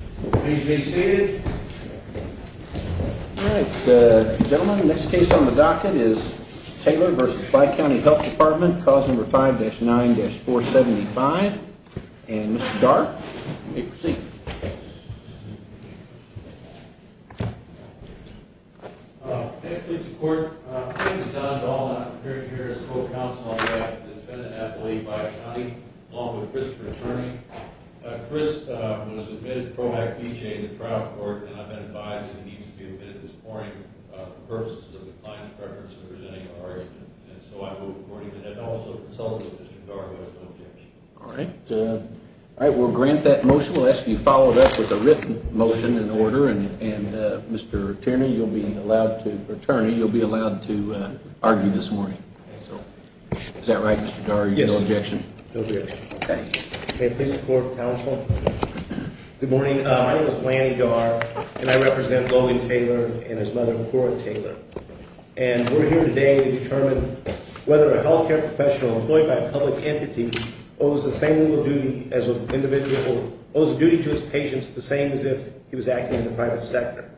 Please be seated. All right, gentlemen, the next case on the docket is Taylor v. Bi-County Health Department, cause number 5-9-475. And Mr. Dart, you may proceed. Thank you, Mr. Court. My name is John Dahl, and I'm here as a co-counsel on behalf of the Defendant Athlete, Bi-County, along with Christopher Tierney. Chris was admitted to PROACT-BJ in the trial court, and I've been advised that he needs to be admitted this morning for purposes of the client's preference of presenting an argument. And so I will report him to them, and also consult with Mr. Dart who has no objection. All right, we'll grant that motion. We'll ask that you follow it up with a written motion and order. And Mr. Tierney, you'll be allowed to, Attorney, you'll be allowed to argue this morning. Is that right, Mr. Dart? You have no objection? No objection. Okay, please report to counsel. Good morning. My name is Lanny Dart, and I represent Logan Taylor and his mother, Cora Taylor. And we're here today to determine whether a health care professional employed by a public entity owes the same level of duty as an individual or owes a duty to his patients the same as if he was acting in the private sector.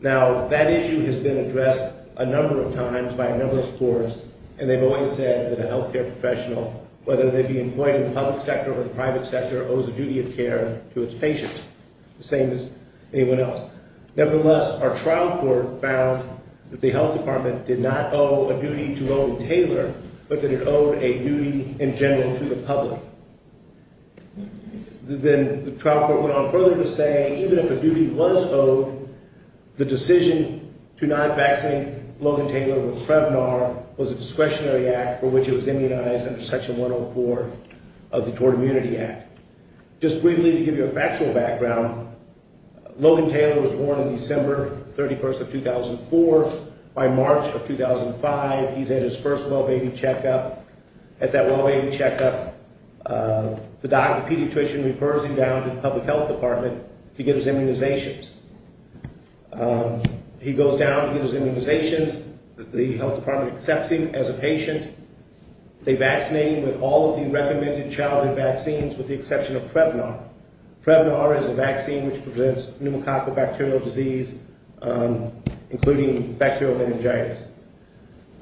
Now, that issue has been addressed a number of times by a number of courts, and they've always said that a health care professional, whether they be employed in the public sector or the private sector, owes a duty of care to its patients, the same as anyone else. Nevertheless, our trial court found that the health department did not owe a duty to Logan Taylor, but that it owed a duty in general to the public. Then the trial court went on further to say even if a duty was owed, the decision to not vaccinate Logan Taylor with Prevnar was a discretionary act for which it was immunized under Section 104 of the Tort Immunity Act. Just briefly to give you a factual background, Logan Taylor was born on December 31st of 2004. By March of 2005, he's at his first well-baby checkup. At that well-baby checkup, the pediatrician refers him down to the public health department to get his immunizations. He goes down to get his immunizations. The health department accepts him as a patient. They vaccinate him with all of the recommended childhood vaccines with the exception of Prevnar. Prevnar is a vaccine which prevents pneumococcal bacterial disease, including bacterial meningitis.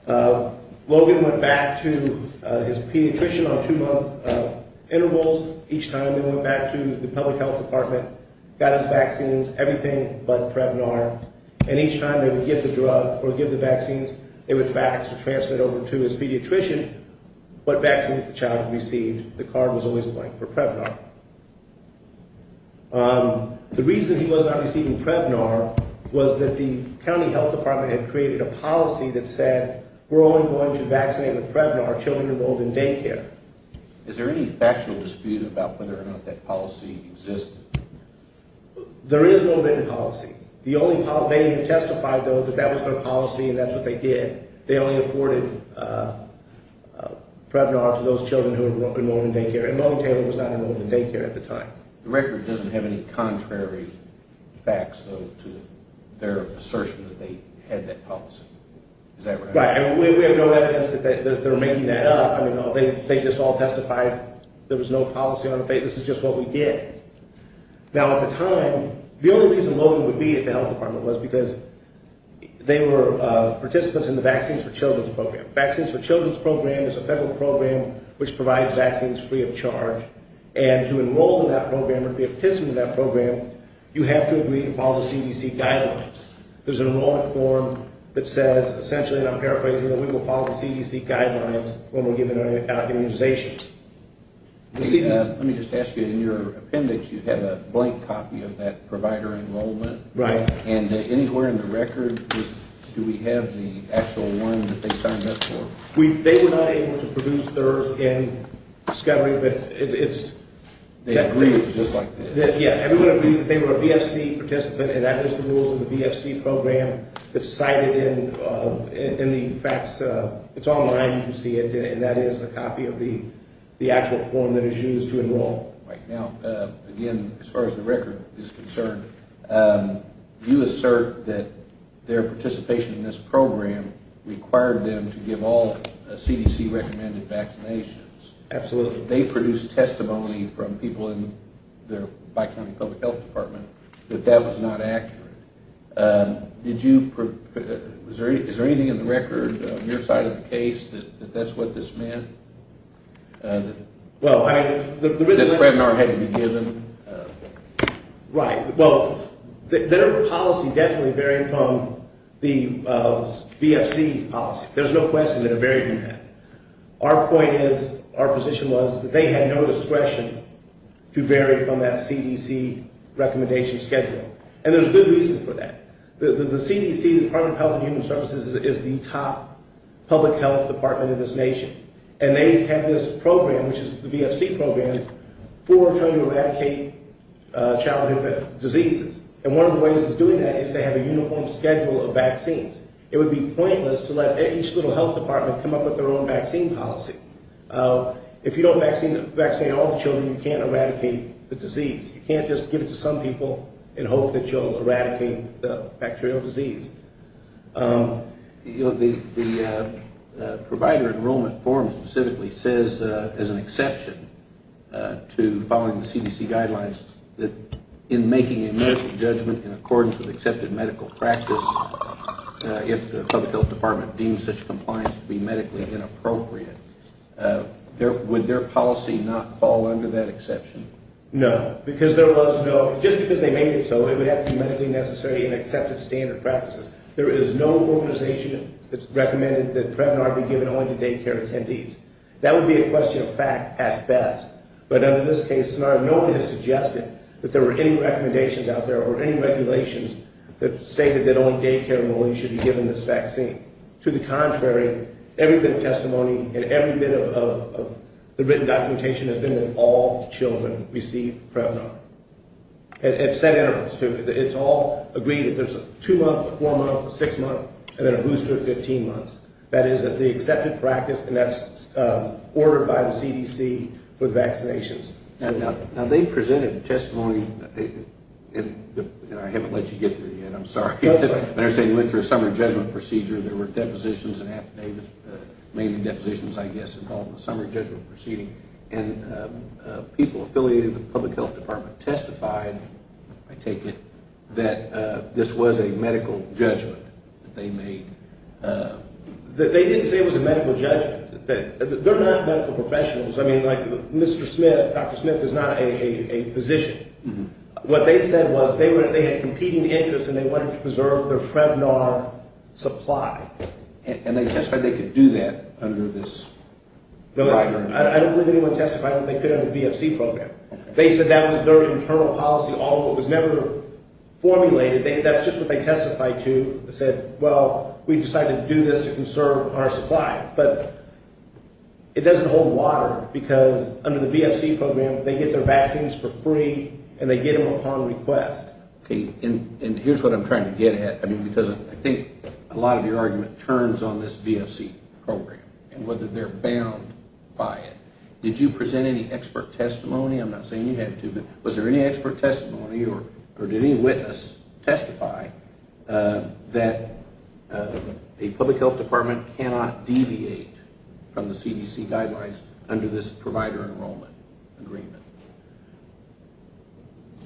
Logan went back to his pediatrician on two-month intervals. Each time they went back to the public health department, got his vaccines, everything but Prevnar, and each time they would give the drug or give the vaccines, it was back to transfer it over to his pediatrician, what vaccines the child had received. The card was always blank for Prevnar. The reason he was not receiving Prevnar was that the county health department had created a policy that said we're only going to vaccinate with Prevnar children enrolled in daycare. Is there any factual dispute about whether or not that policy existed? There is no written policy. The only policy they testified, though, that that was their policy and that's what they did. They only afforded Prevnar to those children who were enrolled in daycare, and Logan Taylor was not enrolled in daycare at the time. The record doesn't have any contrary facts, though, to their assertion that they had that policy. Is that right? Right, and we have no evidence that they were making that up. They just all testified there was no policy on the basis of just what we did. Now, at the time, the only reason Logan would be at the health department was because they were participants in the Vaccines for Children's Program. Vaccines for Children's Program is a federal program which provides vaccines free of charge, and to enroll in that program or be a participant in that program, you have to agree to follow the CDC guidelines. There's an enrollment form that says, essentially, and I'm paraphrasing, that we will follow the CDC guidelines when we're given immunization. Let me just ask you, in your appendix you have a blank copy of that provider enrollment. Right. And anywhere in the record, do we have the actual one that they signed up for? They were not able to produce theirs in discovery, but it's – They agreed it was just like this. Yeah, everyone agrees that they were a VFC participant, and that is the rules of the VFC program that's cited in the facts. It's online, you can see it, and that is a copy of the actual form that is used to enroll. All right, now, again, as far as the record is concerned, you assert that their participation in this program required them to give all CDC-recommended vaccinations. Absolutely. They produced testimony from people in their Bicounty Public Health Department that that was not accurate. Did you – is there anything in the record on your side of the case that that's what this meant? Well, I – That the webinar hadn't been given. Right. Well, their policy definitely varied from the VFC policy. There's no question that it varied from that. Our point is – our position was that they had no discretion to vary from that CDC recommendation schedule, and there's good reason for that. The CDC, the Department of Health and Human Services, is the top public health department in this nation, and they have this program, which is the VFC program, for trying to eradicate childhood diseases. And one of the ways of doing that is they have a uniform schedule of vaccines. It would be pointless to let each little health department come up with their own vaccine policy. If you don't vaccine all the children, you can't eradicate the disease. You can't just give it to some people and hope that you'll eradicate the bacterial disease. The provider enrollment form specifically says, as an exception to following the CDC guidelines, that in making a medical judgment in accordance with accepted medical practice, if the public health department deems such compliance to be medically inappropriate, would their policy not fall under that exception? No, because there was no – just because they made it so, it would have to be medically necessary and accepted standard practices. There is no organization that's recommended that Prevnar be given only to daycare attendees. That would be a question of fact at best, but under this case scenario, no one has suggested that there were any recommendations out there or any regulations that stated that only daycare employees should be given this vaccine. To the contrary, every bit of testimony and every bit of the written documentation has been that all children receive Prevnar at set intervals. It's all agreed that there's a two-month, a four-month, a six-month, and then a booster at 15 months. That is the accepted practice, and that's ordered by the CDC with vaccinations. Now, they presented testimony – and I haven't let you get to it yet, I'm sorry. I understand you went through a summary judgment procedure. There were depositions and affidavits – mainly depositions, I guess, involving a summary judgment proceeding. And people affiliated with the Public Health Department testified, I take it, that this was a medical judgment that they made. They didn't say it was a medical judgment. They're not medical professionals. I mean, like Mr. Smith, Dr. Smith, is not a physician. What they said was they had competing interests and they wanted to preserve their Prevnar supply. And they testified they could do that under this. I don't believe anyone testified that they could under the VFC program. They said that was their internal policy. All of it was never formulated. That's just what they testified to. They said, well, we decided to do this to conserve our supply. But it doesn't hold water because under the VFC program, they get their vaccines for free, and they get them upon request. Okay, and here's what I'm trying to get at. I mean, because I think a lot of your argument turns on this VFC program and whether they're bound by it. Did you present any expert testimony? I'm not saying you had to, but was there any expert testimony or did any witness testify that a public health department cannot deviate from the CDC guidelines under this provider enrollment agreement?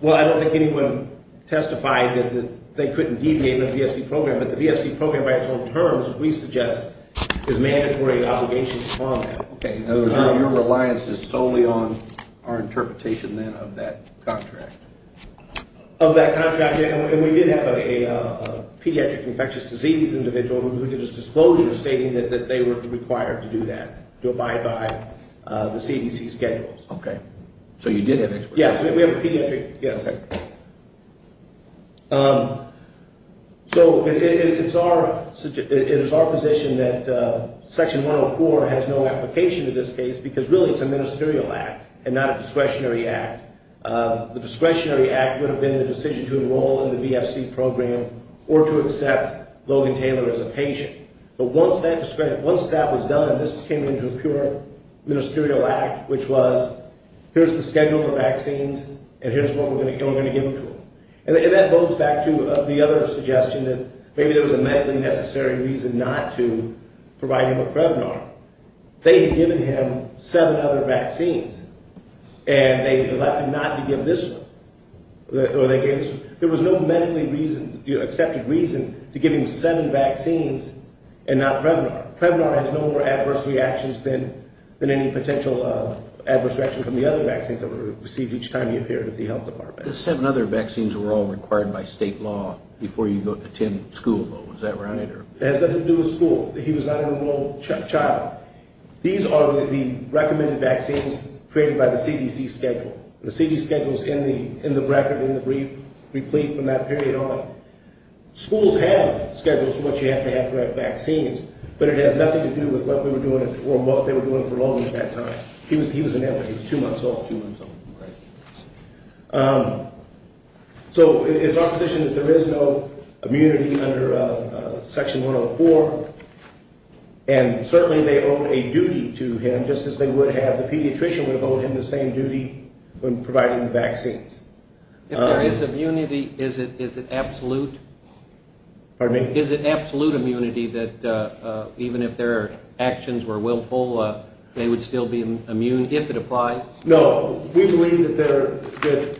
Well, I don't think anyone testified that they couldn't deviate under the VFC program, but the VFC program by its own terms, we suggest, is mandatory obligations upon them. Okay, so your reliance is solely on our interpretation, then, of that contract. Of that contract, and we did have a pediatric infectious disease individual who gave us disclosure stating that they were required to do that, to abide by the CDC schedules. Okay, so you did have expert testimony. Yeah, we have a pediatric, yes. So it is our position that Section 104 has no application to this case because really it's a ministerial act and not a discretionary act. The discretionary act would have been the decision to enroll in the VFC program or to accept Logan Taylor as a patient. But once that was done, this came into a pure ministerial act, which was here's the schedule for vaccines, and here's what we're going to give them to him. And that goes back to the other suggestion that maybe there was a medically necessary reason not to provide him with Prevnar. They had given him seven other vaccines, and they had elected not to give this one. There was no medically accepted reason to give him seven vaccines and not Prevnar. Prevnar has no more adverse reactions than any potential adverse reactions from the other vaccines that were received each time he appeared at the health department. The seven other vaccines were all required by state law before you could attend school. Was that right? It has nothing to do with school. He was not an enrolled child. These are the recommended vaccines created by the CDC schedule. The CDC schedule is in the record and in the brief from that period on. Schools have schedules for what you have to have to have vaccines, but it has nothing to do with what we were doing or what they were doing for long at that time. He was in that way. He was two months old, two months old. So it's our position that there is no immunity under Section 104, and certainly they owe a duty to him just as they would have, the pediatrician would have owed him the same duty when providing the vaccines. If there is immunity, is it absolute? Pardon me? Is it absolute immunity that even if their actions were willful, they would still be immune if it applies? No. We believe that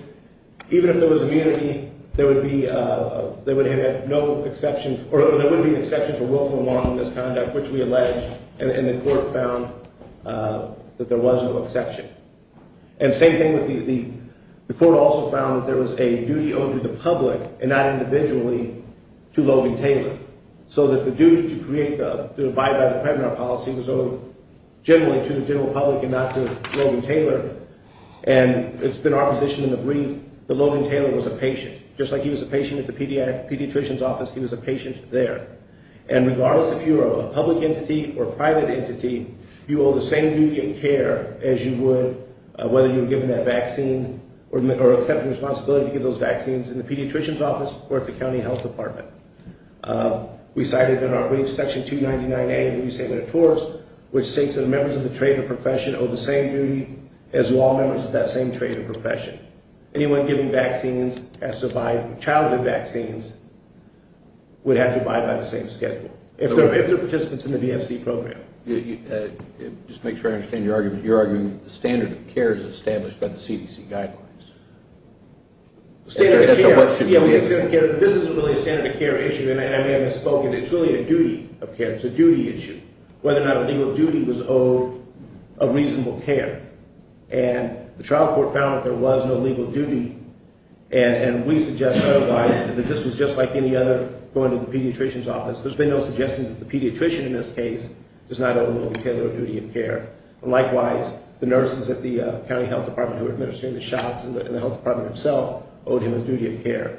even if there was immunity, there would have had no exceptions or there would have been exceptions for willful and moral misconduct, which we allege, and the court found that there was no exception. And same thing with the court also found that there was a duty owed to the public and not individually to Logan Taylor, so that the duty to abide by the preventive policy was owed generally to the general public and not to Logan Taylor, and it's been our position in the brief that Logan Taylor was a patient. Just like he was a patient at the pediatrician's office, he was a patient there. And regardless if you are a public entity or a private entity, you owe the same duty in care as you would whether you were given that vaccine or accepted the responsibility to give those vaccines in the pediatrician's office or at the county health department. We cited in our brief section 299A that we say with a torts, which states that members of the trade or profession owe the same duty as law members of that same trade or profession. Anyone giving vaccines has to abide, childhood vaccines, would have to abide by the same schedule. If they're participants in the VFC program. Just to make sure I understand your argument, you're arguing that the standard of care is established by the CDC guidelines. The standard of care, yeah, this isn't really a standard of care issue, and I may have misspoken. It's really a duty of care. It's a duty issue, whether or not a legal duty was owed a reasonable care. And the trial court found that there was no legal duty, and we suggest otherwise that this was just like any other going to the pediatrician's office. There's been no suggestion that the pediatrician in this case does not owe the retailer a duty of care. And likewise, the nurses at the county health department who are administering the shots and the health department itself owed him a duty of care.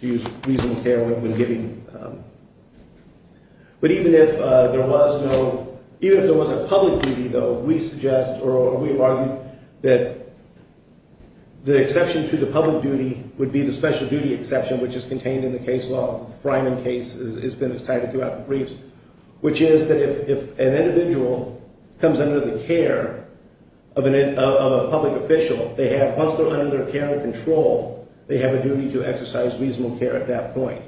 To use reasonable care when giving. But even if there was no, even if there was a public duty, though, we suggest or we argue that the exception to the public duty would be the special duty exception, which is contained in the case law. The Fryman case has been cited throughout the briefs, which is that if an individual comes under the care of a public official, they have, once they're under their care and control, they have a duty to exercise reasonable care at that point.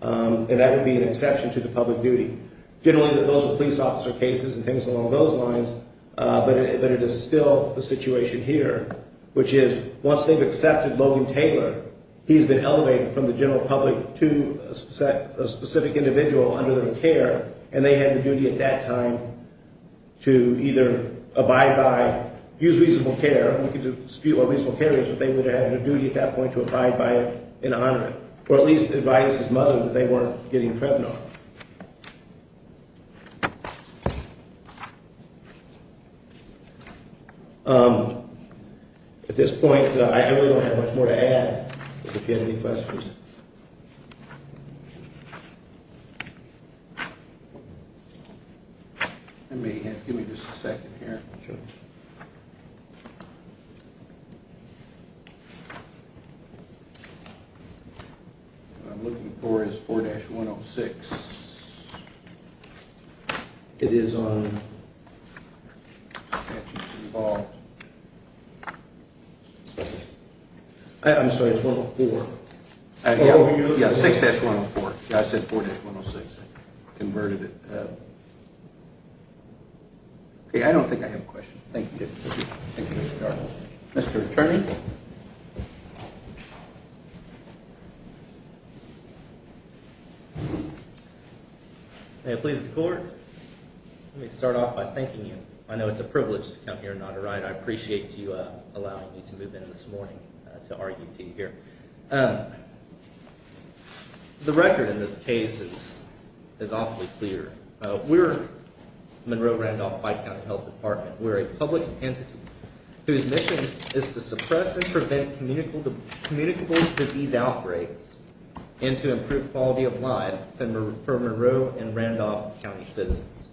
And that would be an exception to the public duty. Generally, those are police officer cases and things along those lines, but it is still the situation here, which is once they've accepted Logan Taylor, he's been elevated from the general public to a specific individual under their care, and they have a duty at that time to either abide by, use reasonable care, and we can dispute what reasonable care is, but they would have a duty at that point to abide by it and honor it, or at least advise his mother that they weren't getting Krebner. So at this point, I really don't have much more to add, but if you have any questions. Give me just a second here. Sure. What I'm looking for is 4-106. It is on. I'm sorry, it's 104. Yeah, 6-104. I said 4-106. Converted it. Okay. I don't think I have a question. Thank you. Mr. Attorney. May it please the Court. Let me start off by thanking you. I know it's a privilege to come here and not arrive. I appreciate you allowing me to move in this morning to RUT here. The record in this case is awfully clear. We're Monroe-Randolph Bi-County Health Department. We're a public entity whose mission is to suppress and prevent communicable disease outbreaks and to improve quality of life for Monroe and Randolph County citizens.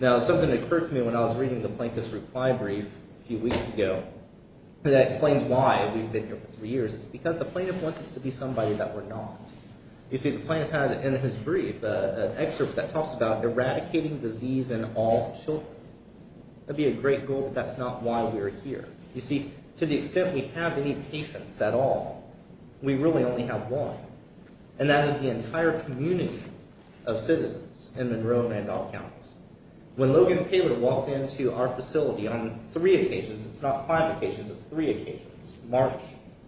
Now, something occurred to me when I was reading the plaintiff's reply brief a few weeks ago that explains why we've been here for three years. It's because the plaintiff wants us to be somebody that we're not. You see, the plaintiff had in his brief an excerpt that talks about eradicating disease in all children. That would be a great goal, but that's not why we're here. You see, to the extent we have any patients at all, we really only have one, and that is the entire community of citizens in Monroe and Randolph Counties. When Logan Taylor walked into our facility on three occasions, it's not five occasions, it's three occasions, March,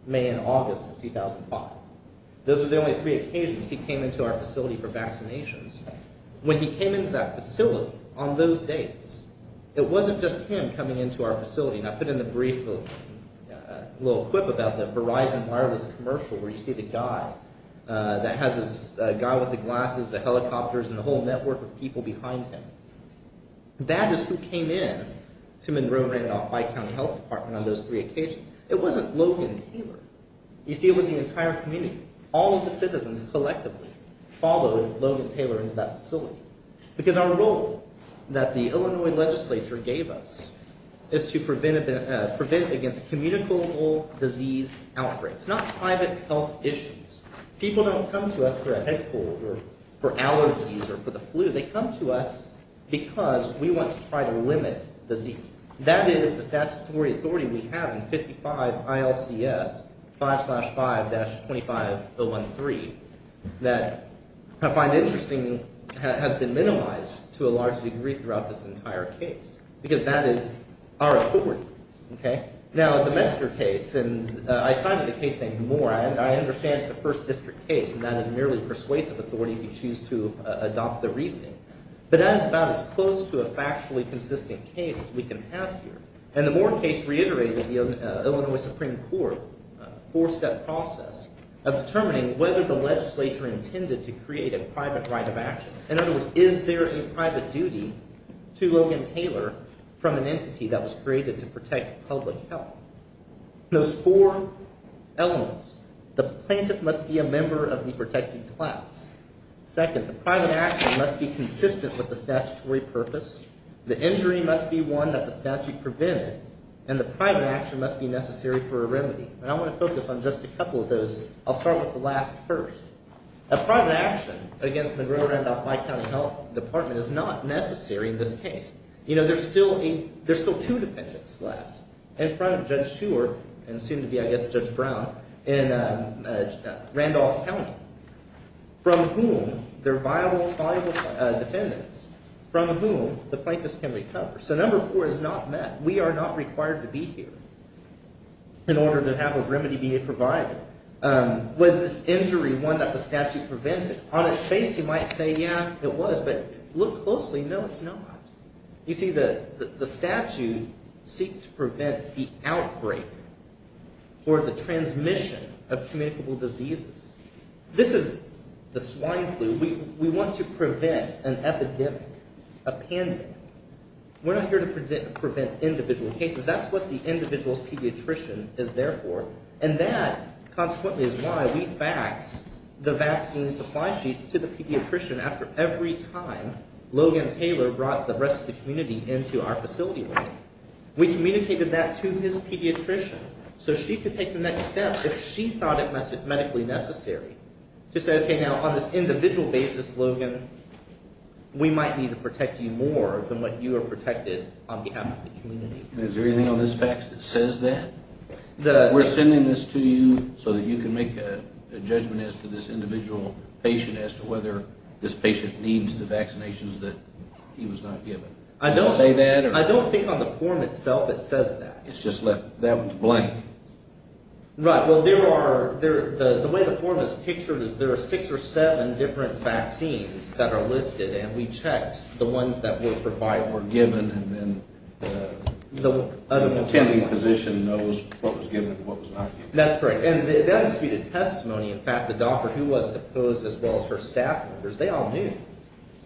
May, and August of 2005. Those are the only three occasions he came into our facility for vaccinations. When he came into that facility on those dates, it wasn't just him coming into our facility. And I put in the brief a little quip about the Verizon wireless commercial where you see the guy that has this guy with the glasses, the helicopters, and the whole network of people behind him. That is who came in to Monroe-Randolph Bi-County Health Department on those three occasions. It wasn't Logan Taylor. You see, it was the entire community. All of the citizens collectively followed Logan Taylor into that facility. Because our role that the Illinois legislature gave us is to prevent against communicable disease outbreaks, not private health issues. People don't come to us for a head cold or for allergies or for the flu. They come to us because we want to try to limit disease. That is the statutory authority we have in 55 ILCS 5-5-25013 that I find interesting, has been minimized to a large degree throughout this entire case. Because that is our authority. Okay? Now, the Metzger case, and I cited a case named Moore, and I understand it's a first district case, and that is merely persuasive authority if you choose to adopt the reasoning. But that is about as close to a factually consistent case as we can have here. And the Moore case reiterated the Illinois Supreme Court four-step process of determining whether the legislature intended to create a private right of action. In other words, is there a private duty to Logan Taylor from an entity that was created to protect public health? Those four elements, the plaintiff must be a member of the protected class. Second, the private action must be consistent with the statutory purpose. The injury must be one that the statute prevented. And the private action must be necessary for a remedy. And I want to focus on just a couple of those. I'll start with the last first. A private action against the Grover Randolph-Meyer County Health Department is not necessary in this case. You know, there's still two defendants left. In front of Judge Shewer, and soon to be, I guess, Judge Brown, in Randolph County. From whom, they're viable defendants, from whom the plaintiff can recover. So number four is not met. We are not required to be here in order to have a remedy be a provider. Was this injury one that the statute prevented? On its face, you might say, yeah, it was. But look closely, no, it's not. You see, the statute seeks to prevent the outbreak or the transmission of communicable diseases. This is the swine flu. We want to prevent an epidemic, a pandemic. We're not here to prevent individual cases. That's what the individual's pediatrician is there for. And that, consequently, is why we fax the vaccine supply sheets to the pediatrician after every time Logan Taylor brought the rest of the community into our facility room. We communicated that to his pediatrician so she could take the next step if she thought it medically necessary. To say, okay, now, on this individual basis, Logan, we might need to protect you more than what you are protected on behalf of the community. Is there anything on this fax that says that? We're sending this to you so that you can make a judgment as to this individual patient as to whether this patient needs the vaccinations that he was not given. Does it say that? I don't think on the form itself it says that. It's just left blank. Right. Well, the way the form is pictured is there are six or seven different vaccines that are listed, and we checked the ones that were given. And then the attending physician knows what was given and what was not given. That's correct. And that is disputed testimony. In fact, the doctor who was opposed, as well as her staff members, they all knew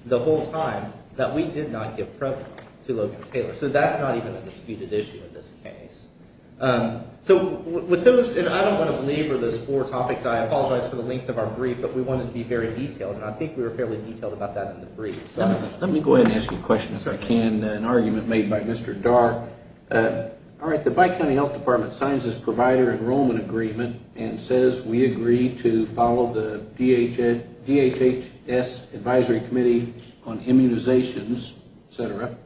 the whole time that we did not give PrEP to Logan Taylor. So that's not even a disputed issue in this case. And I don't want to belabor those four topics. I apologize for the length of our brief, but we wanted to be very detailed, and I think we were fairly detailed about that in the brief. Let me go ahead and ask you a question, if I can. And then an argument made by Mr. Darr. All right, the Bike County Health Department signs this provider enrollment agreement and says we agree to follow the DHHS Advisory Committee on immunizations, et cetera,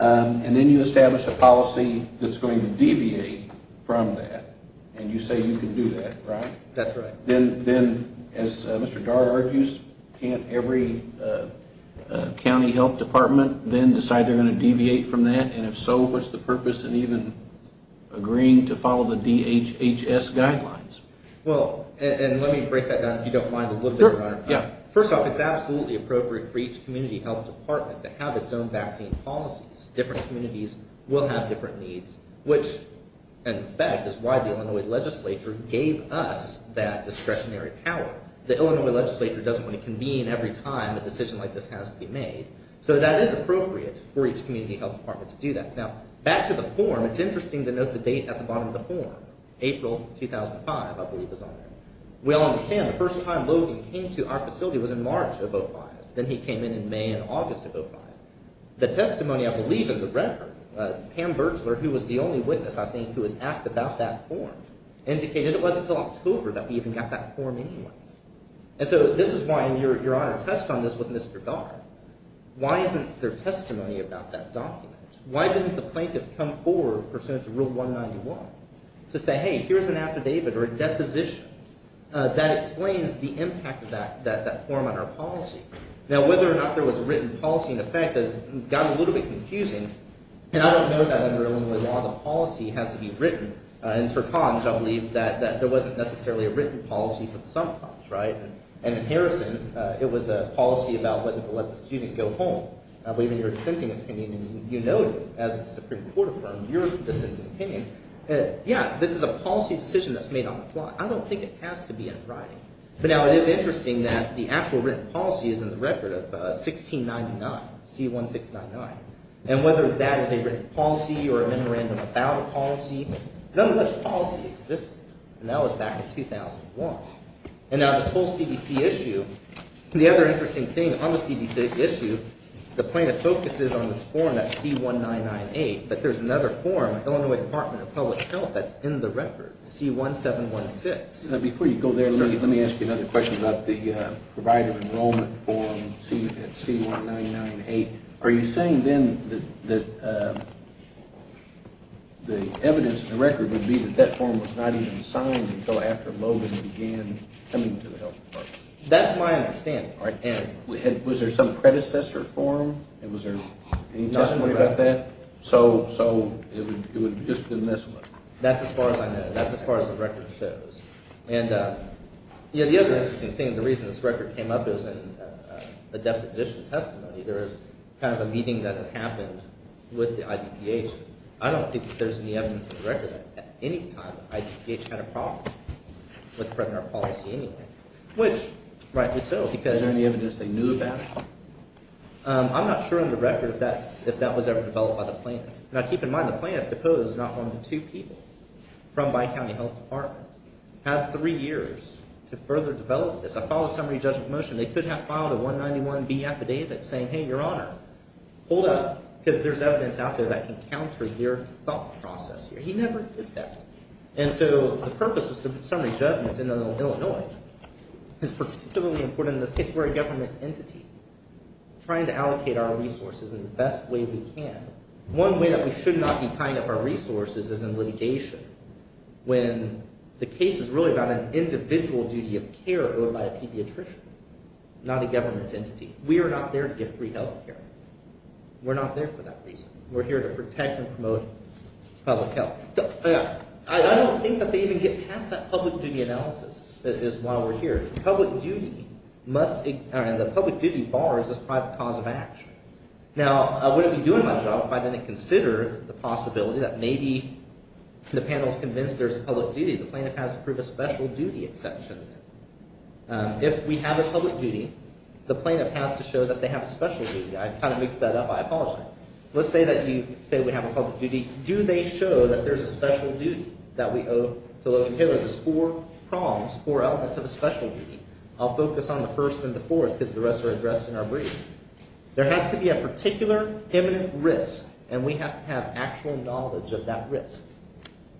and then you establish a policy that's going to deviate from that, and you say you can do that, right? That's right. Then, as Mr. Darr argues, can't every county health department then decide they're going to deviate from that? And if so, what's the purpose in even agreeing to follow the DHHS guidelines? Well, and let me break that down, if you don't mind, a little bit, Your Honor. Yeah. First off, it's absolutely appropriate for each community health department to have its own vaccine policies. Different communities will have different needs, which, in fact, is why the Illinois legislature gave us that discretionary power. The Illinois legislature doesn't want to convene every time a decision like this has to be made. So that is appropriate for each community health department to do that. Now, back to the form. It's interesting to note the date at the bottom of the form. April 2005, I believe, is on there. We all understand the first time Logan came to our facility was in March of 2005. Then he came in in May and August of 2005. The testimony, I believe, in the record, Pam Bertzler, who was the only witness, I think, who was asked about that form, indicated it wasn't until October that we even got that form anyway. And so this is why, and Your Honor touched on this with Mr. Gard. Why isn't there testimony about that document? Why didn't the plaintiff come forward pursuant to Rule 191 to say, hey, here's an affidavit or a deposition that explains the impact of that form on our policy? Now, whether or not there was a written policy in effect has gotten a little bit confusing. And I don't know that under Illinois law the policy has to be written. And for times, I believe, that there wasn't necessarily a written policy for some times, right? And in Harrison, it was a policy about whether to let the student go home. I believe in your dissenting opinion, and you noted as the Supreme Court affirmed your dissenting opinion. Yeah, this is a policy decision that's made on the fly. I don't think it has to be in writing. But now it is interesting that the actual written policy is in the record of 1699, C1699. And whether that is a written policy or a memorandum about a policy, none of this policy existed. And that was back in 2001. And now this whole CDC issue, the other interesting thing on the CDC issue is the plaintiff focuses on this form that's C1998. But there's another form, Illinois Department of Public Health, that's in the record, C1716. Before you go there, let me ask you another question about the provider enrollment form at C1998. Are you saying then that the evidence in the record would be that that form was not even signed until after Logan began coming to the health department? That's my understanding. And was there some predecessor form? And was there any testimony about that? So it would have just been this one? That's as far as I know. That's as far as the record shows. And the other interesting thing, the reason this record came up is in the deposition testimony. There was kind of a meeting that had happened with the IDPH. I don't think that there's any evidence in the record at any time that IDPH had a problem with the presidential policy anyway, which rightly so. Is there any evidence they knew about? I'm not sure in the record if that was ever developed by the plaintiff. And I keep in mind the plaintiff deposed not one but two people from my county health department. Had three years to further develop this. I filed a summary judgment motion. They could have filed a 191B affidavit saying, hey, your honor, hold up, because there's evidence out there that can counter your thought process here. He never did that. And so the purpose of summary judgment in Illinois is particularly important in this case where a government entity is trying to allocate our resources in the best way we can. And one way that we should not be tying up our resources is in litigation when the case is really about an individual duty of care owed by a pediatrician, not a government entity. We are not there to give free health care. We're not there for that reason. We're here to protect and promote public health. So I don't think that they even get past that public duty analysis is why we're here. Public duty must – the public duty bars this private cause of action. Now, I wouldn't be doing my job if I didn't consider the possibility that maybe the panel is convinced there's a public duty. The plaintiff has to prove a special duty exception. If we have a public duty, the plaintiff has to show that they have a special duty. I kind of mixed that up. I apologize. Let's say that you say we have a public duty. Do they show that there's a special duty that we owe to Logan Taylor? There's four prongs, four elements of a special duty. I'll focus on the first and the fourth because the rest are addressed in our brief. There has to be a particular imminent risk, and we have to have actual knowledge of that risk.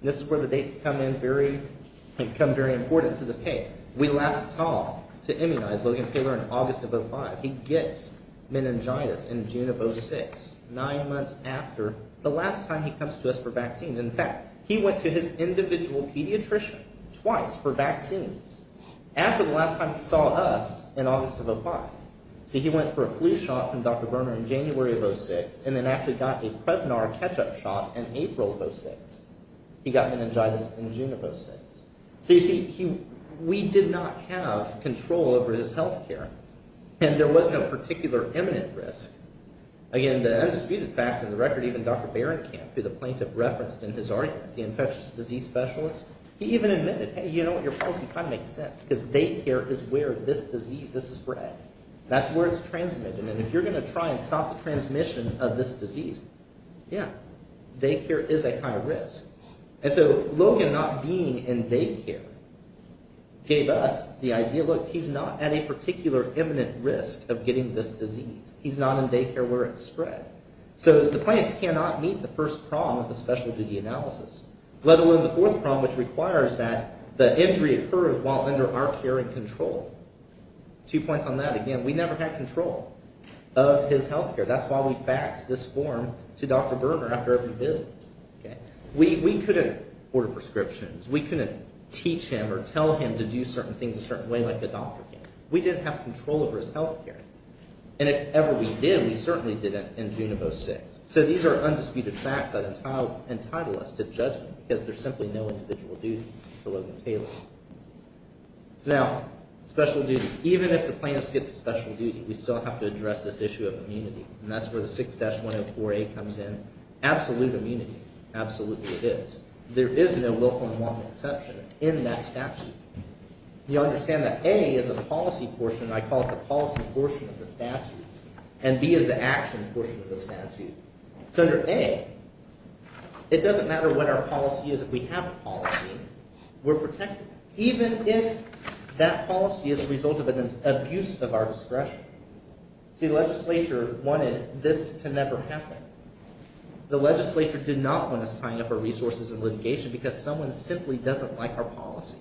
This is where the dates come in very – come very important to this case. We last saw, to immunize Logan Taylor in August of 2005, he gets meningitis in June of 2006, nine months after the last time he comes to us for vaccines. In fact, he went to his individual pediatrician twice for vaccines. After the last time he saw us in August of 2005. See, he went for a flu shot from Dr. Berner in January of 2006 and then actually got a Prevnar catch-up shot in April of 2006. He got meningitis in June of 2006. So you see, we did not have control over his health care, and there was no particular imminent risk. Again, the undisputed facts of the record, even Dr. Berenkamp, who the plaintiff referenced in his argument, the infectious disease specialist, he even admitted, hey, you know what, your policy kind of makes sense because daycare is where this disease is spread. That's where it's transmitted, and if you're going to try and stop the transmission of this disease, yeah, daycare is a high risk. And so Logan not being in daycare gave us the idea, look, he's not at a particular imminent risk of getting this disease. He's not in daycare where it's spread. So the plaintiffs cannot meet the first problem of the special duty analysis, let alone the fourth problem, which requires that the injury occurs while under our care and control. Two points on that. Again, we never had control of his health care. That's why we faxed this form to Dr. Berner after every visit. We couldn't order prescriptions. We couldn't teach him or tell him to do certain things a certain way like a doctor can. We didn't have control over his health care. And if ever we did, we certainly didn't in June of 06. So these are undisputed facts that entitle us to judgment because there's simply no individual duty for Logan Taylor. So now, special duty. Even if the plaintiffs get special duty, we still have to address this issue of immunity, and that's where the 6-104A comes in. Absolute immunity, absolutely it is. There is no willful and wanton exception in that statute. You understand that A is a policy portion, and I call it the policy portion of the statute, and B is the action portion of the statute. So under A, it doesn't matter what our policy is. If we have a policy, we're protected, even if that policy is a result of an abuse of our discretion. See, the legislature wanted this to never happen. The legislature did not want us tying up our resources in litigation because someone simply doesn't like our policy.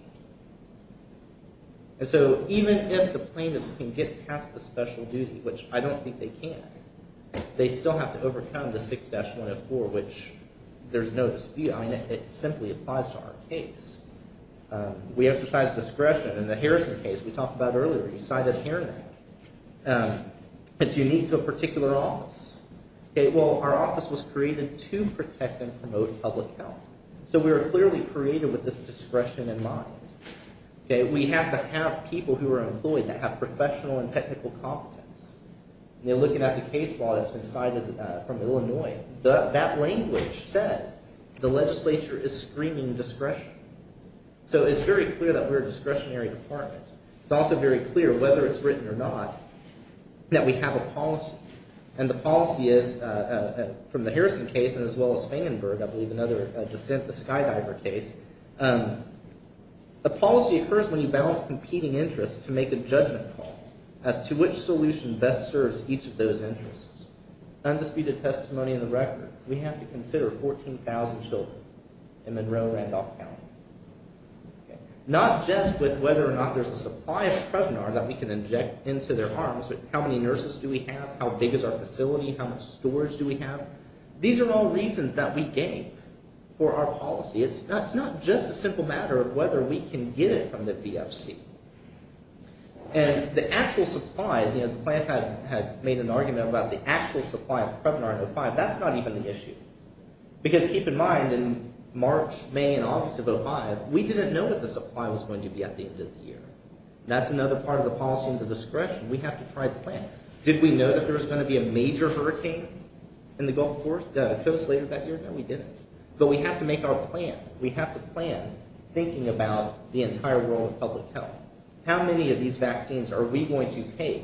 And so even if the plaintiffs can get past the special duty, which I don't think they can, they still have to overcome the 6-104, which there's no dispute. I mean, it simply applies to our case. We exercise discretion in the Harrison case we talked about earlier. We cited a hearing. It's unique to a particular office. Well, our office was created to protect and promote public health. So we were clearly created with this discretion in mind. We have to have people who are employed that have professional and technical competence. And looking at the case law that's been cited from Illinois, that language says the legislature is screaming discretion. So it's very clear that we're a discretionary department. It's also very clear, whether it's written or not, that we have a policy. And the policy is, from the Harrison case as well as Fangenberg, I believe, another dissent, the Skydiver case, a policy occurs when you balance competing interests to make a judgment call as to which solution best serves each of those interests. Undisputed testimony in the record, we have to consider 14,000 children in Monroe and Randolph County. Not just with whether or not there's a supply of Prevnar that we can inject into their arms, but how many nurses do we have? How big is our facility? How much storage do we have? These are all reasons that we gave for our policy. It's not just a simple matter of whether we can get it from the BFC. And the actual supplies, you know, the plant had made an argument about the actual supply of Prevnar in 2005. That's not even the issue. Because keep in mind, in March, May, and August of 2005, we didn't know what the supply was going to be at the end of the year. That's another part of the policy and the discretion. We have to try to plan. Did we know that there was going to be a major hurricane in the Gulf Coast later that year? No, we didn't. But we have to make our plan. We have to plan, thinking about the entire world of public health. How many of these vaccines are we going to take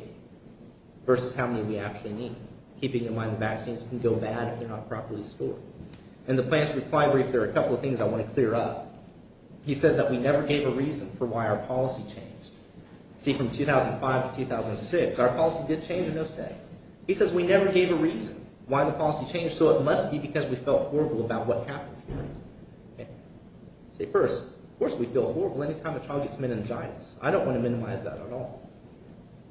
versus how many we actually need? Keeping in mind the vaccines can go bad if they're not properly stored. In the plant's reply brief, there are a couple of things I want to clear up. He says that we never gave a reason for why our policy changed. See, from 2005 to 2006, our policy did change in those days. He says we never gave a reason why the policy changed, so it must be because we felt horrible about what happened. See, first, of course we feel horrible any time a child gets meningitis. I don't want to minimize that at all.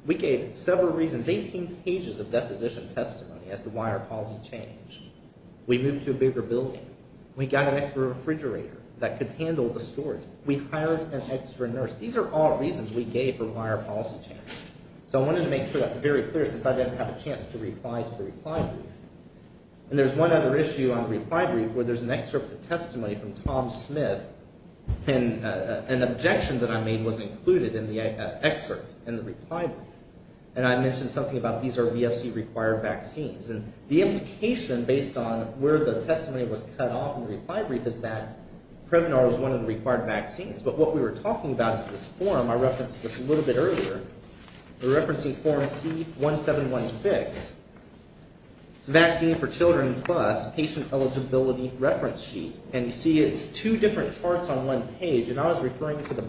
We gave several reasons, 18 pages of deposition testimony as to why our policy changed. We moved to a bigger building. We got an extra refrigerator that could handle the storage. We hired an extra nurse. These are all reasons we gave for why our policy changed. So I wanted to make sure that's very clear since I didn't have a chance to reply to the reply brief. And there's one other issue on the reply brief where there's an excerpt of testimony from Tom Smith, and an objection that I made was included in the excerpt in the reply brief. And I mentioned something about these are VFC-required vaccines. And the implication, based on where the testimony was cut off in the reply brief, is that Prevnar was one of the required vaccines. But what we were talking about is this form. I referenced this a little bit earlier. We're referencing form C1716. It's a vaccine for children plus patient eligibility reference sheet. And you see it's two different charts on one page. And I was referring to the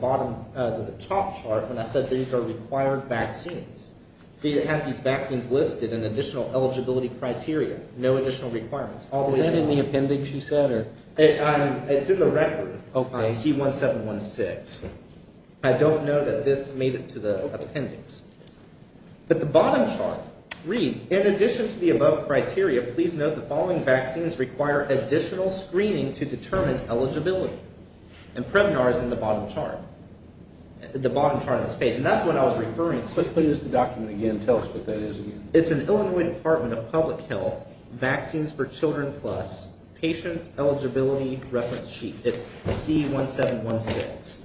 top chart when I said these are required vaccines. See, it has these vaccines listed and additional eligibility criteria, no additional requirements. Is that in the appendix you said? It's in the record on C1716. I don't know that this made it to the appendix. But the bottom chart reads, in addition to the above criteria, please note the following vaccines require additional screening to determine eligibility. And Prevnar is in the bottom chart. The bottom chart of this page. And that's what I was referring to. Let's play this document again. Tell us what that is again. It's an Illinois Department of Public Health vaccines for children plus patient eligibility reference sheet. It's C1716.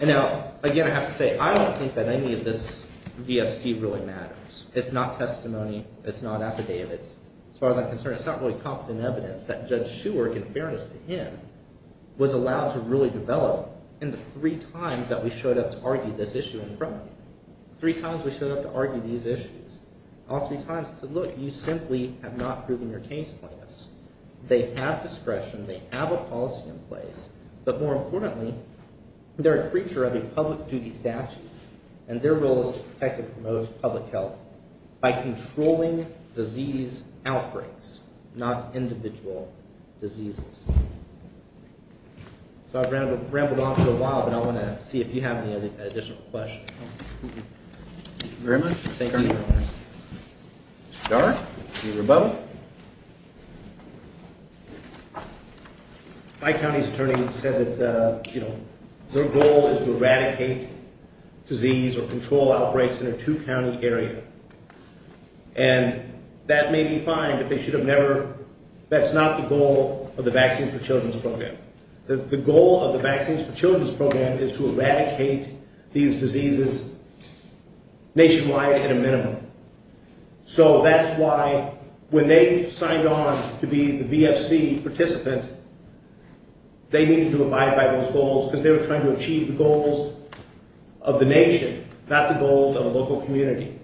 And now, again, I have to say, I don't think that any of this VFC really matters. It's not testimony. It's not affidavits. As far as I'm concerned, it's not really competent evidence that Judge Shuerk, in fairness to him, was allowed to really develop in the three times that we showed up to argue this issue in front of him. Three times we showed up to argue these issues. All three times he said, look, you simply have not proven your case plan. They have discretion. They have a policy in place. But more importantly, they're a creature of a public duty statute, and their role is to protect and promote public health by controlling disease outbreaks, not individual diseases. So I've rambled on for a while, but I want to see if you have any additional questions. Thank you very much. Thank you. Mr. Darn, you're above. My county's attorney said that their goal is to eradicate disease or control outbreaks in a two-county area. And that may be fine, but they should have never – that's not the goal of the Vaccines for Children's program. The goal of the Vaccines for Children's program is to eradicate these diseases nationwide at a minimum. So that's why when they signed on to be the VFC participant, they needed to abide by those goals because they were trying to achieve the goals of the nation, not the goals of a local community.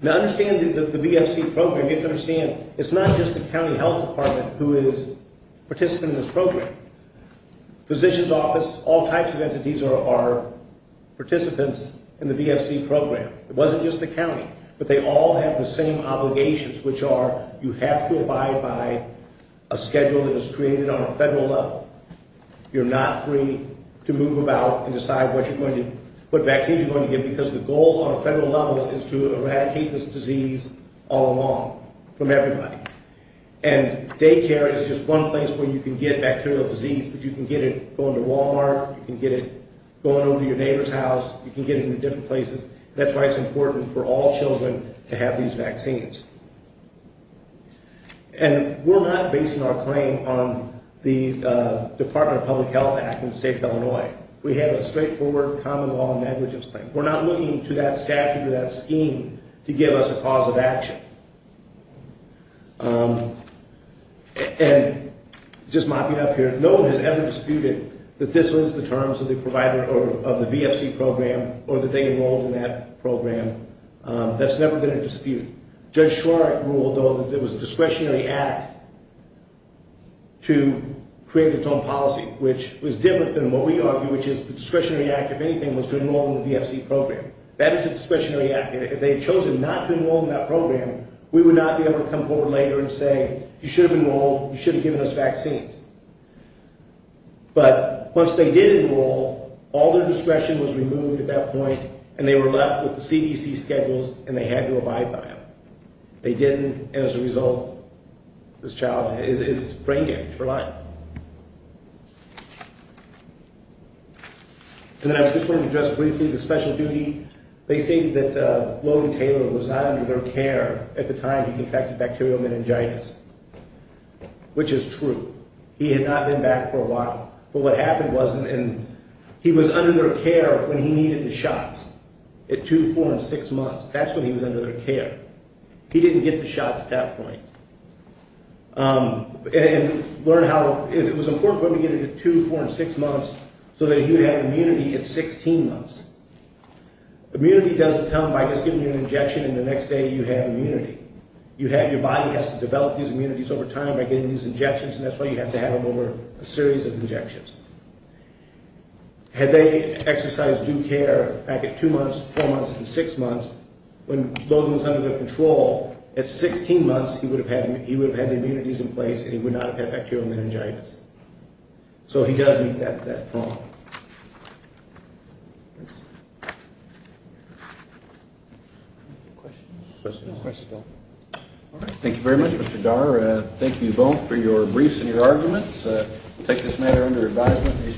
Now, understand that the VFC program – you have to understand it's not just the county health department who is participating in this program. Physicians' office, all types of entities are participants in the VFC program. It wasn't just the county, but they all have the same obligations, which are you have to abide by a schedule that is created on a federal level. You're not free to move about and decide what vaccines you're going to give because the goal on a federal level is to eradicate this disease all along from everybody. And daycare is just one place where you can get bacterial disease, but you can get it going to Walmart, you can get it going over to your neighbor's house, you can get it in different places. That's why it's important for all children to have these vaccines. And we're not basing our claim on the Department of Public Health Act in the state of Illinois. We have a straightforward common law negligence claim. We're not looking to that statute or that scheme to give us a cause of action. And just mopping up here, no one has ever disputed that this was the terms of the VFC program or that they enrolled in that program. That's never been a dispute. Judge Schwartz ruled, though, that it was a discretionary act to create its own policy, which was different than what we argue, which is the discretionary act, if anything, was to enroll in the VFC program. That is a discretionary act, and if they had chosen not to enroll in that program, we would not be able to come forward later and say, you should have enrolled, you should have given us vaccines. But once they did enroll, all their discretion was removed at that point, and they were left with the CDC schedules, and they had to abide by them. They didn't, and as a result, this child is brain damaged for life. And then I just wanted to address briefly the special duty. They stated that Logan Taylor was not under their care at the time he contracted bacterial meningitis, which is true. He had not been back for a while. But what happened was he was under their care when he needed the shots at two, four, and six months. That's when he was under their care. He didn't get the shots at that point. It was important for him to get it at two, four, and six months so that he would have immunity at 16 months. Immunity doesn't come by just giving you an injection, and the next day you have immunity. Your body has to develop these immunities over time by getting these injections, and that's why you have to have them over a series of injections. Had they exercised due care back at two months, four months, and six months, when Logan was under their control, at 16 months, he would have had the immunities in place, and he would not have had bacterial meningitis. So he does meet that problem. Thanks. Questions? No questions. All right. Thank you very much, Mr. Dar. Thank you both for your briefs and your arguments. We'll take this matter under advisement.